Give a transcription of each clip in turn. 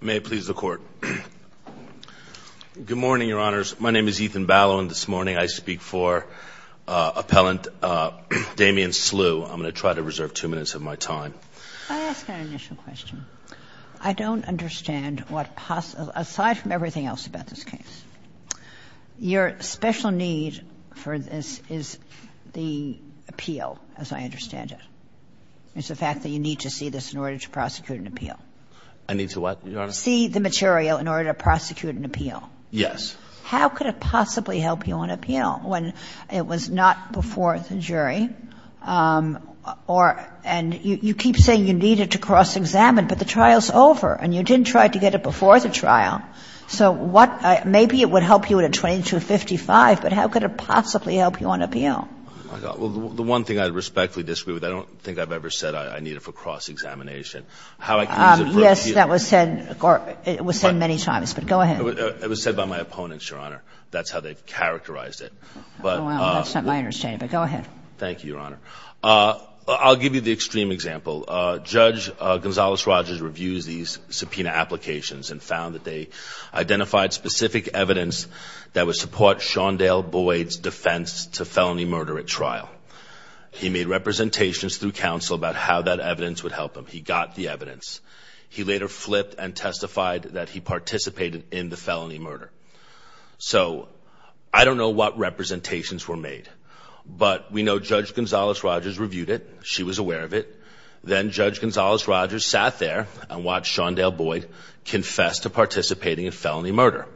May it please the Court. Good morning, Your Honors. My name is Ethan Ballow, and this morning I speak for Appellant Damion Sleugh. I'm going to try to reserve two minutes of my time. I ask an initial question. I don't understand what, aside from everything else about this case, your special need for this is the appeal, as I understand it. It's the fact that you need to see this in order to prosecute an appeal. I need to what, Your Honor? See the material in order to prosecute an appeal. Yes. How could it possibly help you on appeal when it was not before the jury? And you keep saying you need it to cross-examine, but the trial's over, and you didn't try to get it before the trial. So what – maybe it would help you at a 2255, but how could it possibly help you on appeal? Well, the one thing I respectfully disagree with, I don't think I've ever said I need it for cross-examination. Yes, that was said many times, but go ahead. It was said by my opponents, Your Honor. That's how they've characterized it. Well, that's not my understanding, but go ahead. Thank you, Your Honor. I'll give you the extreme example. Judge Gonzales-Rogers reviews these subpoena applications and found that they identified specific evidence that would support Shaundell Boyd's defense to felony murder at trial. He made representations through counsel about how that evidence would help him. He got the evidence. He later flipped and testified that he participated in the felony murder. So I don't know what representations were made, but we know Judge Gonzales-Rogers reviewed it. She was aware of it. Then Judge Gonzales-Rogers sat there and watched Shaundell Boyd confess to participating in felony murder.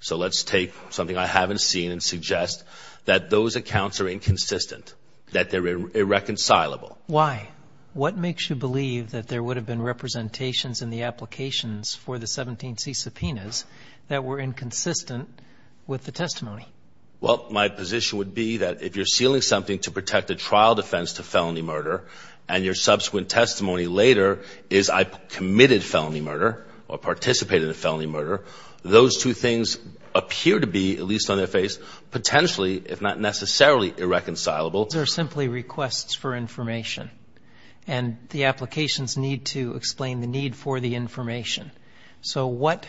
So let's take something I haven't seen and suggest that those accounts are inconsistent, that they're irreconcilable. Why? What makes you believe that there would have been representations in the applications for the 17C subpoenas that were inconsistent with the testimony? Well, my position would be that if you're sealing something to protect a trial defense to felony murder and your subsequent testimony later is I committed felony murder or participated in felony murder, those two things appear to be, at least on their face, potentially, if not necessarily, irreconcilable. They're simply requests for information, and the applications need to explain the need for the information. So what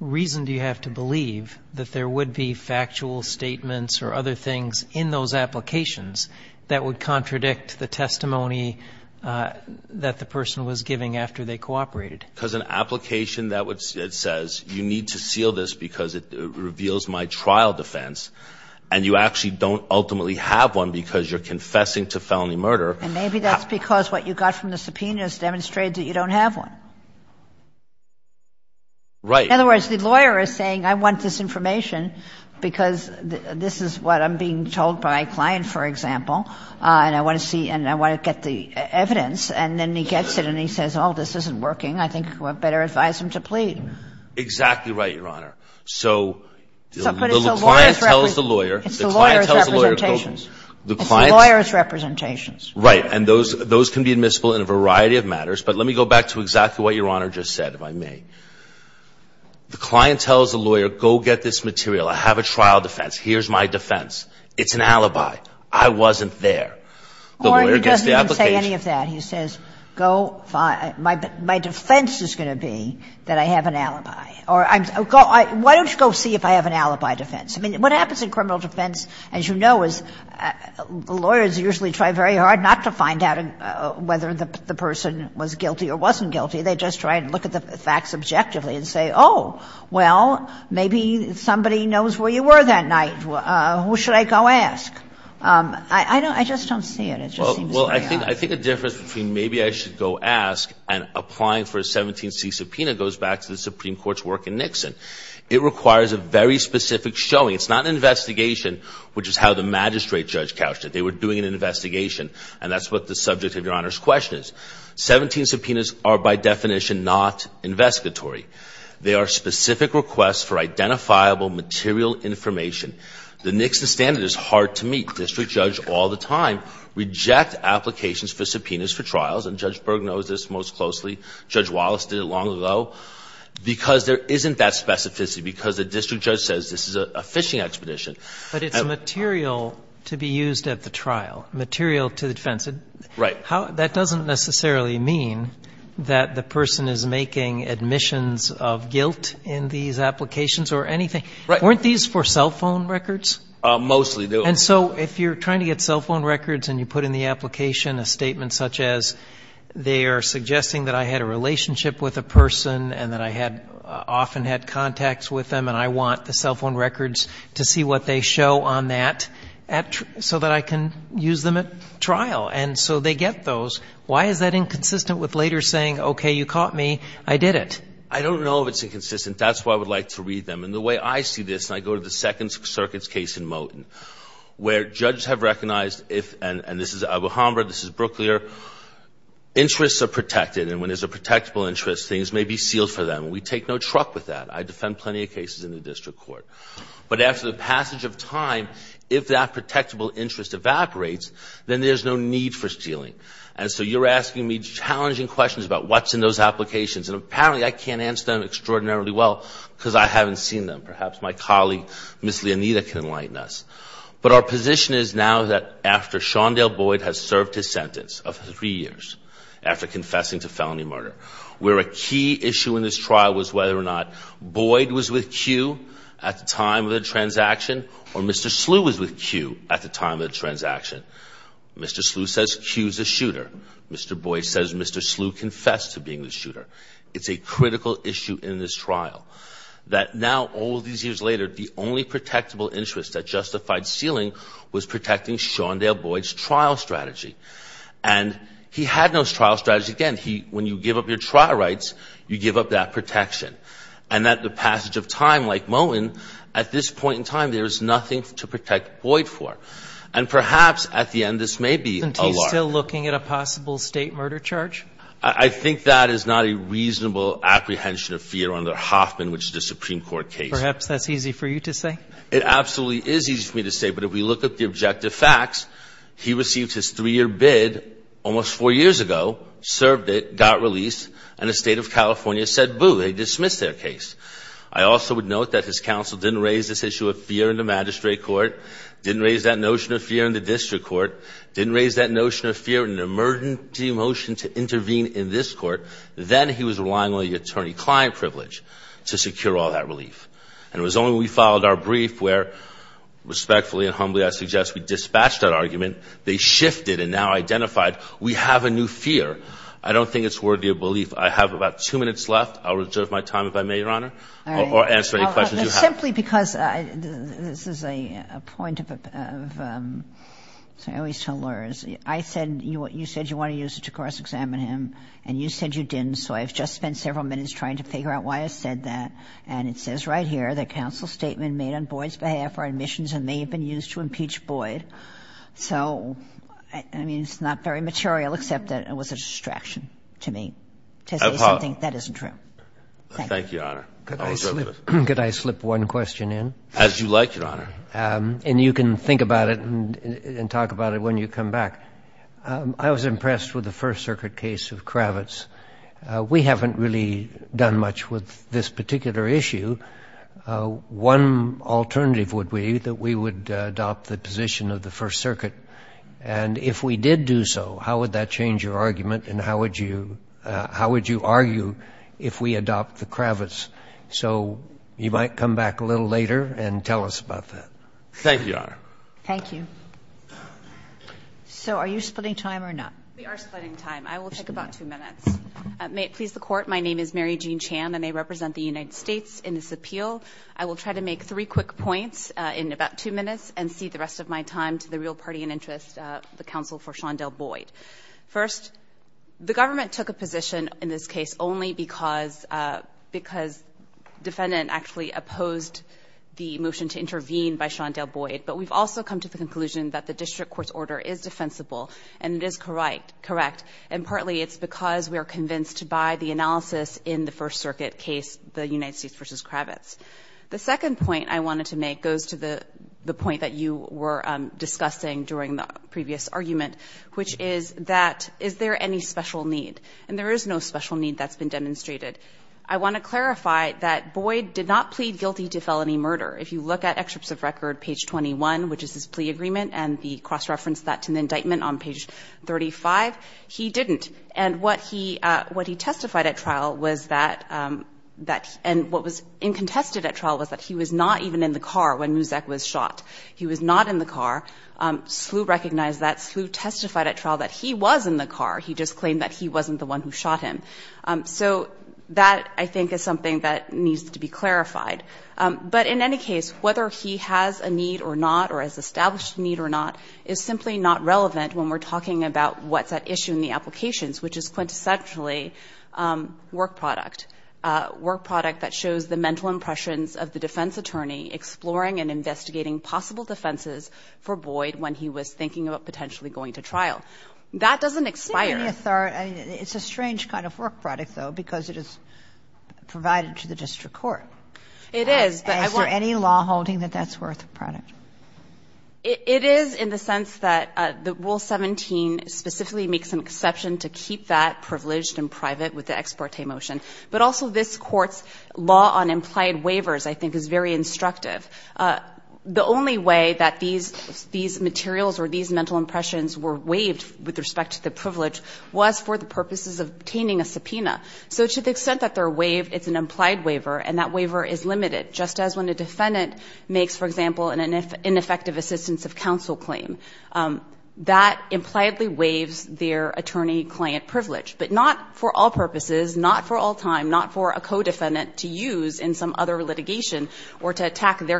reason do you have to believe that there would be factual statements or other things in those applications that would contradict the testimony that the person was giving after they cooperated? Because an application that says you need to seal this because it reveals my trial defense and you actually don't ultimately have one because you're confessing to felony murder. And maybe that's because what you got from the subpoena has demonstrated that you don't have one. Right. In other words, the lawyer is saying I want this information because this is what I'm being told by a client, for example, and I want to see and I want to get the evidence. And then he gets it and he says, oh, this isn't working. I think I better advise him to plead. Exactly right, Your Honor. So the client tells the lawyer. It's the lawyer's representations. It's the lawyer's representations. Right. And those can be admissible in a variety of matters. But let me go back to exactly what Your Honor just said, if I may. The client tells the lawyer, go get this material. I have a trial defense. Here's my defense. It's an alibi. I wasn't there. The lawyer gets the application. I don't see any of that. He says, my defense is going to be that I have an alibi. Why don't you go see if I have an alibi defense? I mean, what happens in criminal defense, as you know, is lawyers usually try very hard not to find out whether the person was guilty or wasn't guilty. They just try and look at the facts objectively and say, oh, well, maybe somebody knows where you were that night. Who should I go ask? I just don't see it. Well, I think a difference between maybe I should go ask and applying for a 17C subpoena goes back to the Supreme Court's work in Nixon. It requires a very specific showing. It's not an investigation, which is how the magistrate judge couched it. They were doing an investigation. And that's what the subject of Your Honor's question is. 17 subpoenas are by definition not investigatory. They are specific requests for identifiable material information. The Nixon standard is hard to meet. The district judge all the time reject applications for subpoenas for trials, and Judge Berg knows this most closely. Judge Wallace did it long ago, because there isn't that specificity, because the district judge says this is a phishing expedition. But it's material to be used at the trial, material to the defense. Right. That doesn't necessarily mean that the person is making admissions of guilt in these applications or anything. Right. Weren't these for cell phone records? Mostly. And so if you're trying to get cell phone records and you put in the application a statement such as they are suggesting that I had a relationship with a person and that I had often had contacts with them and I want the cell phone records to see what they show on that so that I can use them at trial, and so they get those, why is that inconsistent with later saying, okay, you caught me, I did it? I don't know if it's inconsistent. That's why I would like to read them. And the way I see this, and I go to the Second Circuit's case in Moton, where judges have recognized if, and this is Albuhambra, this is Brooklyer, interests are protected. And when there's a protectable interest, things may be sealed for them. We take no truck with that. I defend plenty of cases in the district court. But after the passage of time, if that protectable interest evaporates, then there's no need for sealing. And so you're asking me challenging questions about what's in those applications. And apparently I can't answer them extraordinarily well because I haven't seen them. Perhaps my colleague, Ms. Leonita, can enlighten us. But our position is now that after Shaundell Boyd has served his sentence of three years, after confessing to felony murder, where a key issue in this trial was whether or not Boyd was with Q at the time of the transaction or Mr. Slew was with Q at the time of the transaction. Mr. Slew says Q's a shooter. It's a critical issue in this trial. That now, all these years later, the only protectable interest that justified sealing was protecting Shaundell Boyd's trial strategy. And he had no trial strategy. Again, when you give up your trial rights, you give up that protection. And that the passage of time, like Moen, at this point in time, there is nothing to protect Boyd for. And perhaps at the end this may be a lie. Are you still looking at a possible state murder charge? I think that is not a reasonable apprehension of fear under Hoffman, which is a Supreme Court case. Perhaps that's easy for you to say. It absolutely is easy for me to say. But if we look at the objective facts, he received his three-year bid almost four years ago, served it, got released, and the State of California said, boo, they dismissed their case. I also would note that his counsel didn't raise this issue of fear in the magistrate court, didn't raise that notion of fear in the district court, didn't raise that notion of fear in an emergency motion to intervene in this court. Then he was relying on the attorney-client privilege to secure all that relief. And it was only when we filed our brief where, respectfully and humbly I suggest, we dispatched that argument, they shifted and now identified we have a new fear. I don't think it's worthy of belief. I have about two minutes left. I'll reserve my time if I may, Your Honor, or answer any questions you have. Simply because this is a point of, I always tell lawyers, I said, you said you want to use it to cross-examine him, and you said you didn't, so I've just spent several minutes trying to figure out why I said that. And it says right here that counsel's statement made on Boyd's behalf are admissions and may have been used to impeach Boyd. So, I mean, it's not very material, except that it was a distraction to me to say Thank you. Thank you, Your Honor. Could I slip one question in? As you like, Your Honor. And you can think about it and talk about it when you come back. I was impressed with the First Circuit case of Kravitz. We haven't really done much with this particular issue. One alternative would be that we would adopt the position of the First Circuit. And if we did do so, how would that change your argument and how would you argue if we adopt the Kravitz? So you might come back a little later and tell us about that. Thank you, Your Honor. Thank you. So are you splitting time or not? We are splitting time. I will take about two minutes. May it please the Court, my name is Mary Jean Chan and I represent the United States in this appeal. I will try to make three quick points in about two minutes and cede the rest of my time to the real party in interest, the counsel for Shondell Boyd. First, the government took a position in this case only because defendant actually opposed the motion to intervene by Shondell Boyd. But we've also come to the conclusion that the district court's order is defensible and it is correct. And partly it's because we are convinced by the analysis in the First Circuit case, the United States v. Kravitz. The second point I wanted to make goes to the point that you were discussing during the previous argument, which is that is there any special need? And there is no special need that's been demonstrated. I want to clarify that Boyd did not plead guilty to felony murder. If you look at excerpts of record, page 21, which is his plea agreement and the cross-reference that to the indictment on page 35, he didn't. And what he testified at trial was that he was not even in the car when Muzak was shot. He was not in the car. Slew recognized that. Slew testified at trial that he was in the car. He just claimed that he wasn't the one who shot him. So that, I think, is something that needs to be clarified. But in any case, whether he has a need or not or has established a need or not is simply not relevant when we're talking about what's at issue in the applications, which is quintessentially work product, work product that shows the mental impressions of the defense attorney exploring and investigating possible defenses for Boyd when he was thinking about potentially going to trial. That doesn't expire. Kagan, it's a strange kind of work product, though, because it is provided to the district court. It is. Is there any law holding that that's worth a product? It is in the sense that Rule 17 specifically makes an exception to keep that privileged and private with the ex parte motion. But also this Court's law on implied waivers, I think, is very instructive. The only way that these materials or these mental impressions were waived with respect to the privilege was for the purposes of obtaining a subpoena. So to the extent that they're waived, it's an implied waiver, and that waiver is limited, just as when a defendant makes, for example, an ineffective assistance of counsel claim. That impliedly waives their attorney-client privilege, but not for all purposes, not for all time, not for a co-defendant to use in some other litigation or to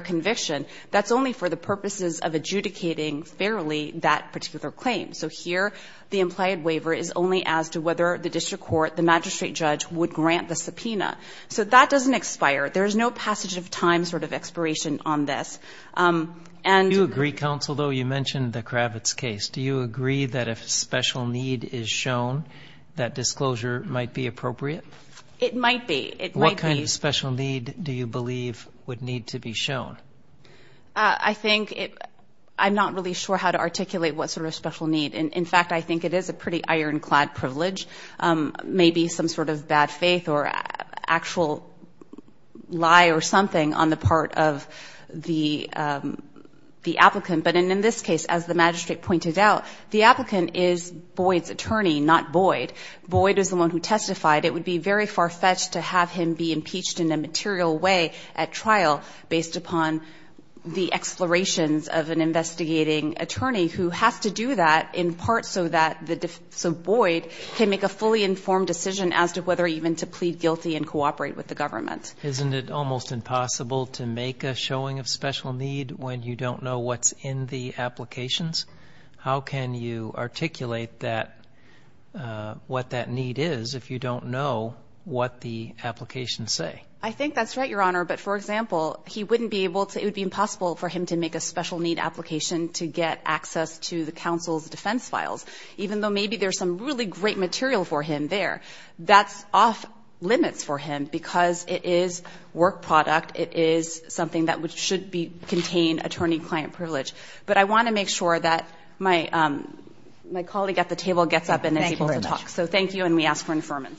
conviction. That's only for the purposes of adjudicating fairly that particular claim. So here, the implied waiver is only as to whether the district court, the magistrate judge, would grant the subpoena. So that doesn't expire. There's no passage of time sort of expiration on this. Do you agree, counsel, though? You mentioned the Kravitz case. Do you agree that if a special need is shown, that disclosure might be appropriate? It might be. What kind of special need do you believe would need to be shown? I think I'm not really sure how to articulate what sort of special need. In fact, I think it is a pretty ironclad privilege, maybe some sort of bad faith or actual lie or something on the part of the applicant. But in this case, as the magistrate pointed out, the applicant is Boyd's attorney, not Boyd. Boyd is the one who testified. It would be very far-fetched to have him be impeached in a material way at trial based upon the explorations of an investigating attorney who has to do that in part so that Boyd can make a fully informed decision as to whether even to plead guilty and cooperate with the government. Isn't it almost impossible to make a showing of special need when you don't know what's in the applications? How can you articulate what that need is if you don't know what the applications say? I think that's right, Your Honor. But, for example, it would be impossible for him to make a special need application to get access to the counsel's defense files, even though maybe there's some really great material for him there. That's off limits for him because it is work product. It is something that should contain attorney-client privilege. But I want to make sure that my colleague at the table gets up and is able to talk. Thank you very much. So thank you, and we ask for information.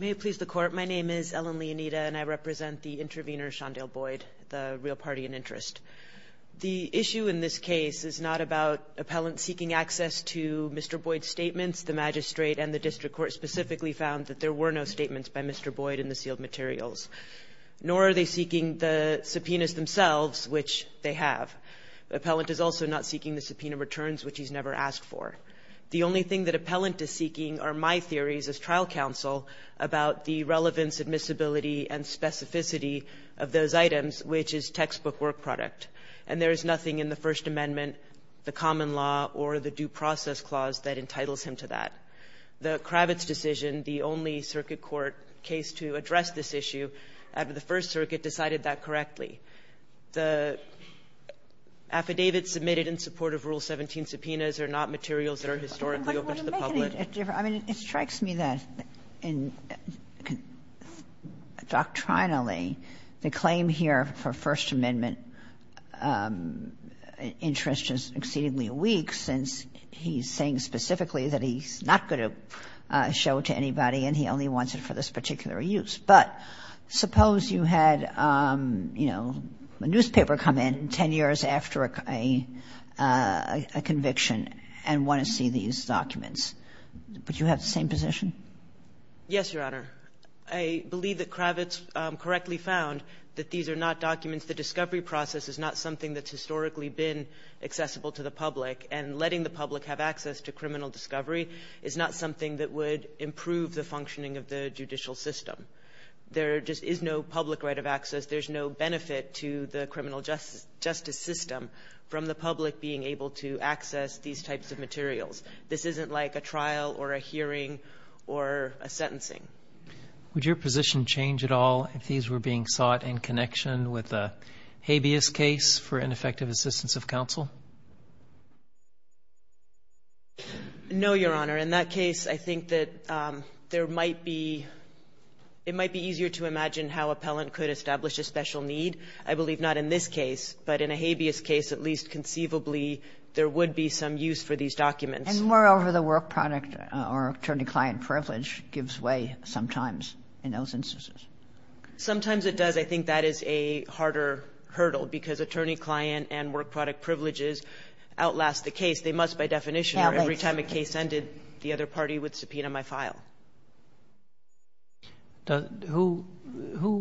May it please the Court. My name is Ellen Leonita, and I represent the intervener, Shondell Boyd, the real party in interest. The issue in this case is not about appellants seeking access to Mr. Boyd's statements. The magistrate and the district court specifically found that there were no statements by Mr. Boyd in the sealed materials, nor are they seeking the subpoenas themselves, which they have. The appellant is also not seeking the subpoena returns, which he's never asked for. The only thing that appellant is seeking are my theories as trial counsel about the relevance, admissibility, and specificity of those items, which is textbook work product. And there is nothing in the First Amendment, the common law, or the due process clause that entitles him to that. The Kravitz decision, the only circuit court case to address this issue, after the First Circuit decided that correctly. The affidavits submitted in support of Rule 17 subpoenas are not materials that are historically open to the public. Kagan. I mean, it strikes me that doctrinally, the claim here for First Amendment interest is exceedingly weak, since he's saying specifically that he's not going to show it to anybody and he only wants it for this particular use. But suppose you had, you know, a newspaper come in 10 years after a conviction and want to see these documents. Would you have the same position? Yes, Your Honor. I believe that Kravitz correctly found that these are not documents that Discovery process is not something that's historically been accessible to the public, and letting the public have access to criminal discovery is not something that would improve the functioning of the judicial system. There just is no public right of access. There's no benefit to the criminal justice system from the public being able to access these types of materials. This isn't like a trial or a hearing or a sentencing. Would your position change at all if these were being sought in connection with a habeas case for ineffective assistance of counsel? No, Your Honor. In that case, I think that there might be ‑‑ it might be easier to imagine how appellant could establish a special need. I believe not in this case, but in a habeas case, at least conceivably, there would be some use for these documents. And moreover, the work product or attorney-client privilege gives way sometimes in those instances. Sometimes it does. I think that is a harder hurdle because attorney-client and work product privileges outlast the case. They must, by definition, or every time a case ended, the other party would subpoena my file. Who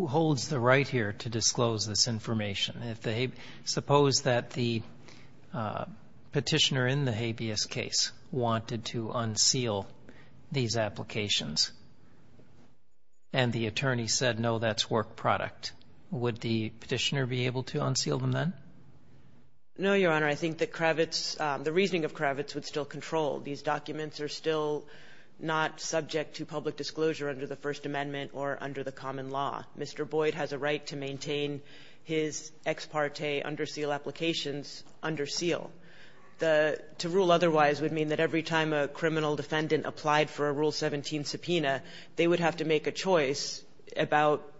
holds the right here to disclose this information? Suppose that the petitioner in the habeas case wanted to unseal these applications and the attorney said, no, that's work product. Would the petitioner be able to unseal them then? No, Your Honor. I think that Kravitz, the reasoning of Kravitz would still control. These documents are still not subject to public disclosure under the First Amendment or under the common law. Mr. Boyd has a right to maintain his ex parte under seal applications under seal. To rule otherwise would mean that every time a criminal defendant applied for a rule 17C subpoena, they would have to make a choice about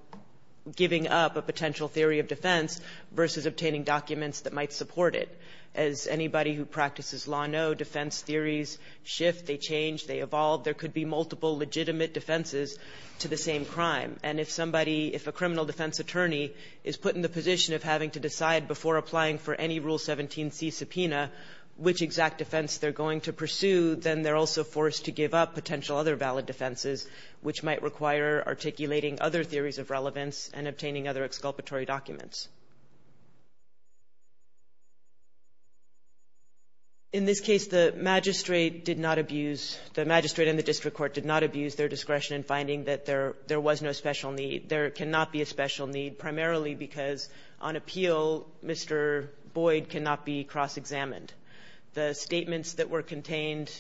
giving up a potential theory of defense versus obtaining documents that might support it. As anybody who practices law knows, defense theories shift, they change, they evolve. There could be multiple legitimate defenses to the same crime. And if somebody, if a criminal defense attorney is put in the position of having to decide before applying for any rule 17C subpoena which exact defense they're going to pursue, then they're also forced to give up potential other valid defenses which might require articulating other theories of relevance and obtaining other exculpatory documents. In this case, the magistrate did not abuse, the magistrate and the district court did not abuse their discretion in finding that there was no special need. There cannot be a special need primarily because on appeal, Mr. Boyd cannot be cross-examined. The statements that were contained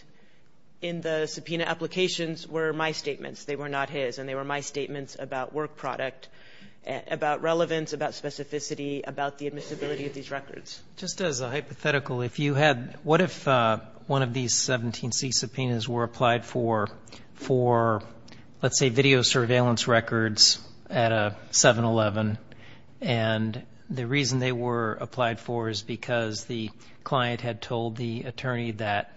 in the subpoena applications were my statements, they were not his. And they were my statements about work product, about relevance, about specificity, about the admissibility of these records. Just as a hypothetical, if you had, what if one of these 17C subpoenas were applied for, for let's say video surveillance records at a 7-Eleven, and the reason they were applied for is because the client had told the attorney that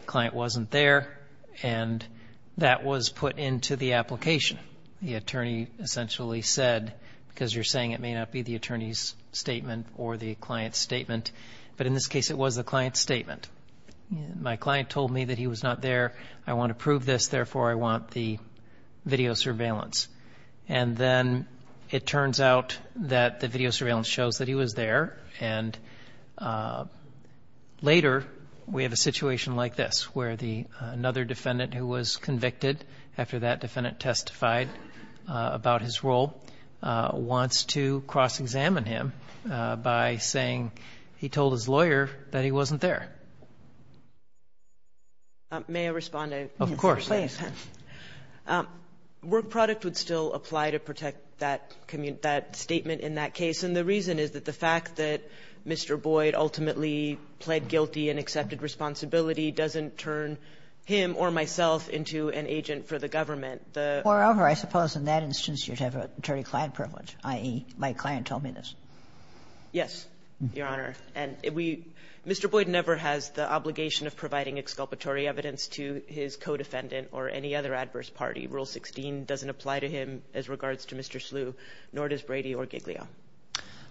the client wasn't there, and that was put into the application. The attorney essentially said, because you're saying it may not be the attorney's statement or the client's statement, but in this case, it was the client's statement. My client told me that he was not there, I want to prove this, therefore I want the video surveillance. And then it turns out that the video surveillance shows that he was there, and later we have a situation like this, where another defendant who was convicted after that defendant testified about his role wants to cross-examine him by saying he told his lawyer that he wasn't there. May I respond? Of course. Please. Work product would still apply to protect that statement in that case, and the reason is that the fact that Mr. Boyd ultimately pled guilty and accepted responsibility doesn't turn him or myself into an agent for the government. Moreover, I suppose in that instance you'd have attorney-client privilege, i.e., my client told me this. Yes, Your Honor. And we — Mr. Boyd never has the obligation of providing exculpatory evidence to his co-defendant or any other adverse party. Rule 16 doesn't apply to him as regards to Mr. Slew, nor does Brady or Giglio.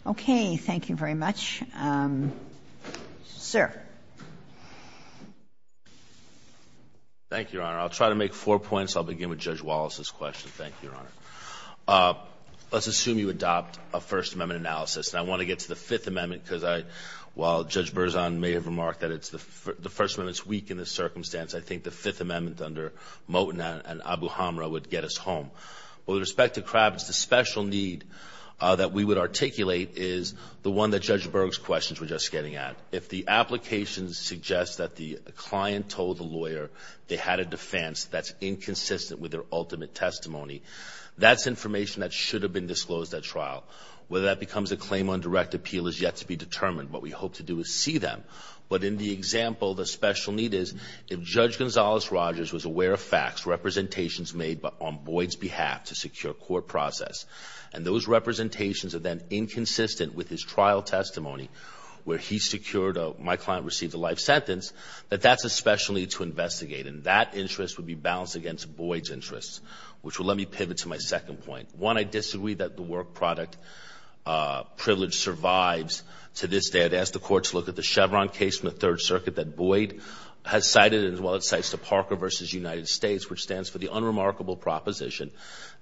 Okay. Thank you very much. Sir. Thank you, Your Honor. I'll try to make four points. I'll begin with Judge Wallace's question. Thank you, Your Honor. Let's assume you adopt a First Amendment analysis. And I want to get to the Fifth Amendment because I — while Judge Berzon may have I think the Fifth Amendment under Moten and Abuhamra would get us home. With respect to Kravitz, the special need that we would articulate is the one that Judge Berg's questions were just getting at. If the application suggests that the client told the lawyer they had a defense that's inconsistent with their ultimate testimony, that's information that should have been disclosed at trial. Whether that becomes a claim on direct appeal is yet to be determined. What we hope to do is see them. But in the example, the special need is if Judge Gonzales-Rogers was aware of facts, representations made on Boyd's behalf to secure court process, and those representations are then inconsistent with his trial testimony where he secured my client received a life sentence, that that's a special need to investigate. And that interest would be balanced against Boyd's interests, which will let me pivot to my second point. One, I disagree that the work product privilege survives to this day. I'd ask the court to look at the Chevron case from the Third Circuit that Boyd has cited, as well as it cites the Parker v. United States, which stands for the unremarkable proposition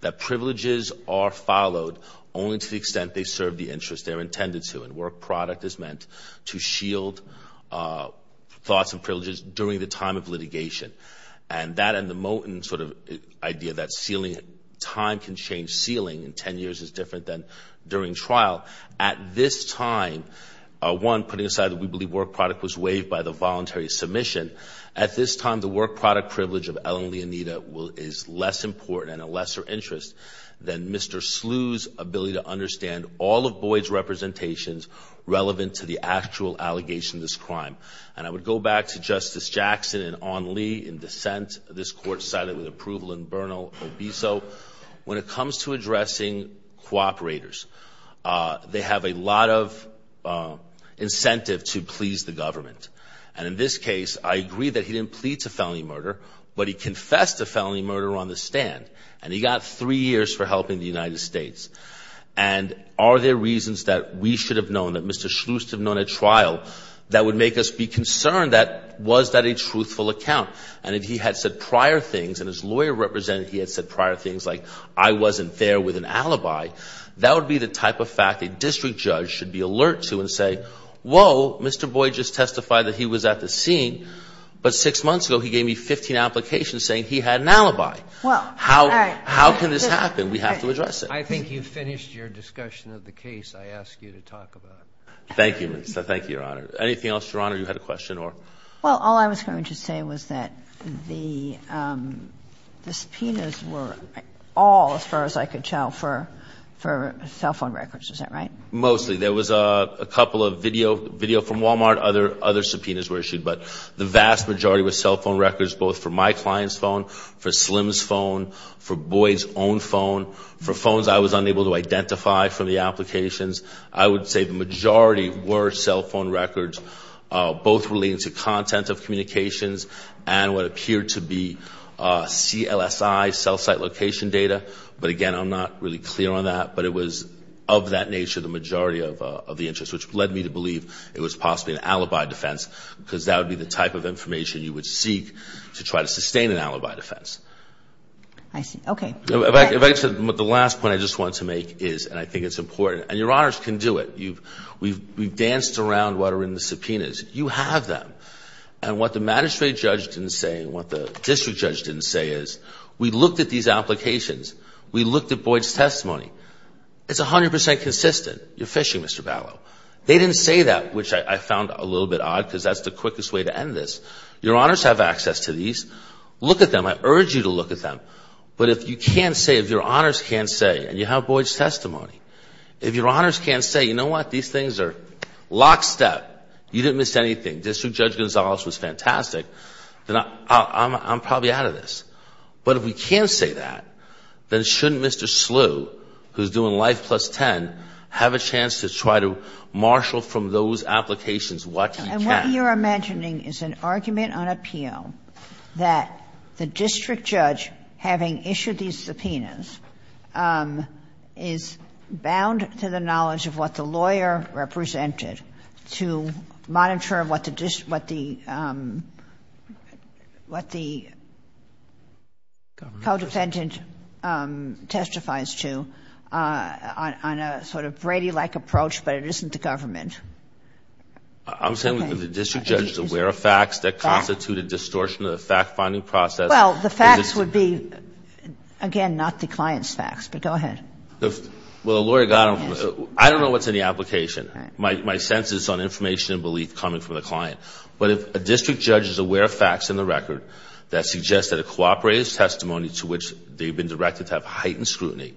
that privileges are followed only to the extent they serve the interest they're intended to. And work product is meant to shield thoughts and privileges during the time of litigation. And that and the Moten sort of idea that time can change ceiling in ten years is different than during trial. At this time, one, putting aside that we believe work product was waived by the voluntary submission, at this time the work product privilege of Ellen Leonida is less important and a lesser interest than Mr. Slew's ability to understand all of Boyd's representations relevant to the actual allegation of this crime. And I would go back to Justice Jackson and Ann Lee in dissent. This court cited with approval in Bernal-Obiso. When it comes to addressing cooperators, they have a lot of incentive to please the government. And in this case, I agree that he didn't plead to felony murder, but he confessed to felony murder on the stand. And he got three years for helping the United States. And are there reasons that we should have known, that Mr. Slew should have known at trial, that would make us be concerned that was that a truthful account? And if he had said prior things, and his lawyer represented he had said prior things, like I wasn't there with an alibi, that would be the type of fact a district judge should be alert to and say, whoa, Mr. Boyd just testified that he was at the scene, but six months ago he gave me 15 applications saying he had an alibi. How can this happen? We have to address it. I think you've finished your discussion of the case I asked you to talk about. Thank you. Thank you, Your Honor. Anything else, Your Honor, you had a question? Well, all I was going to say was that the subpoenas were all, as far as I could tell, for cell phone records. Is that right? Mostly. There was a couple of video from Walmart. Other subpoenas were issued. But the vast majority were cell phone records, both for my client's phone, for Slim's phone, for Boyd's own phone, for phones I was unable to identify from the applications. I would say the majority were cell phone records, both relating to content of communications and what appeared to be CLSI, cell site location data. But, again, I'm not really clear on that. But it was of that nature the majority of the interest, which led me to believe it was possibly an alibi defense because that would be the type of information you would seek to try to sustain an alibi defense. I see. Okay. The last point I just want to make is, and I think it's important, and Your Honors can do it. We've danced around what are in the subpoenas. You have them. And what the magistrate judge didn't say and what the district judge didn't say is we looked at these applications. We looked at Boyd's testimony. It's 100 percent consistent. You're phishing, Mr. Ballot. They didn't say that, which I found a little bit odd because that's the quickest way to end this. Your Honors have access to these. Look at them. I urge you to look at them. But if you can't say, if Your Honors can't say, and you have Boyd's testimony, if Your Honors can't say, you know what? These things are lockstep. You didn't miss anything. District Judge Gonzalez was fantastic. Then I'm probably out of this. But if we can't say that, then shouldn't Mr. Slew, who's doing Life Plus 10, have a chance to try to marshal from those applications what he can? My question is this. What you are mentioning is an argument on appeal that the district judge, having issued these subpoenas, is bound to the knowledge of what the lawyer represented to monitor what the co-defendant testifies to on a sort of Brady-like approach, but it isn't the government. I'm saying that if the district judge is aware of facts that constitute a distortion of the fact-finding process Well, the facts would be, again, not the client's facts. But go ahead. Well, the lawyer got them. I don't know what's in the application. My sense is on information and belief coming from the client. But if a district judge is aware of facts in the record that suggest that a cooperator's testimony to which they've been directed to have heightened scrutiny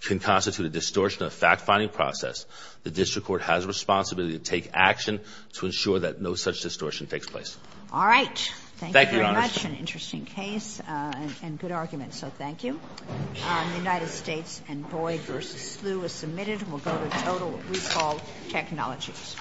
can constitute a distortion of the fact-finding process, the district court has a responsibility to take action to ensure that no such distortion takes place. All right. Thank you, Your Honor. Thank you very much. An interesting case and good argument. So thank you. The United States and Boyd v. Slew is submitted. We'll go to total recall technologies.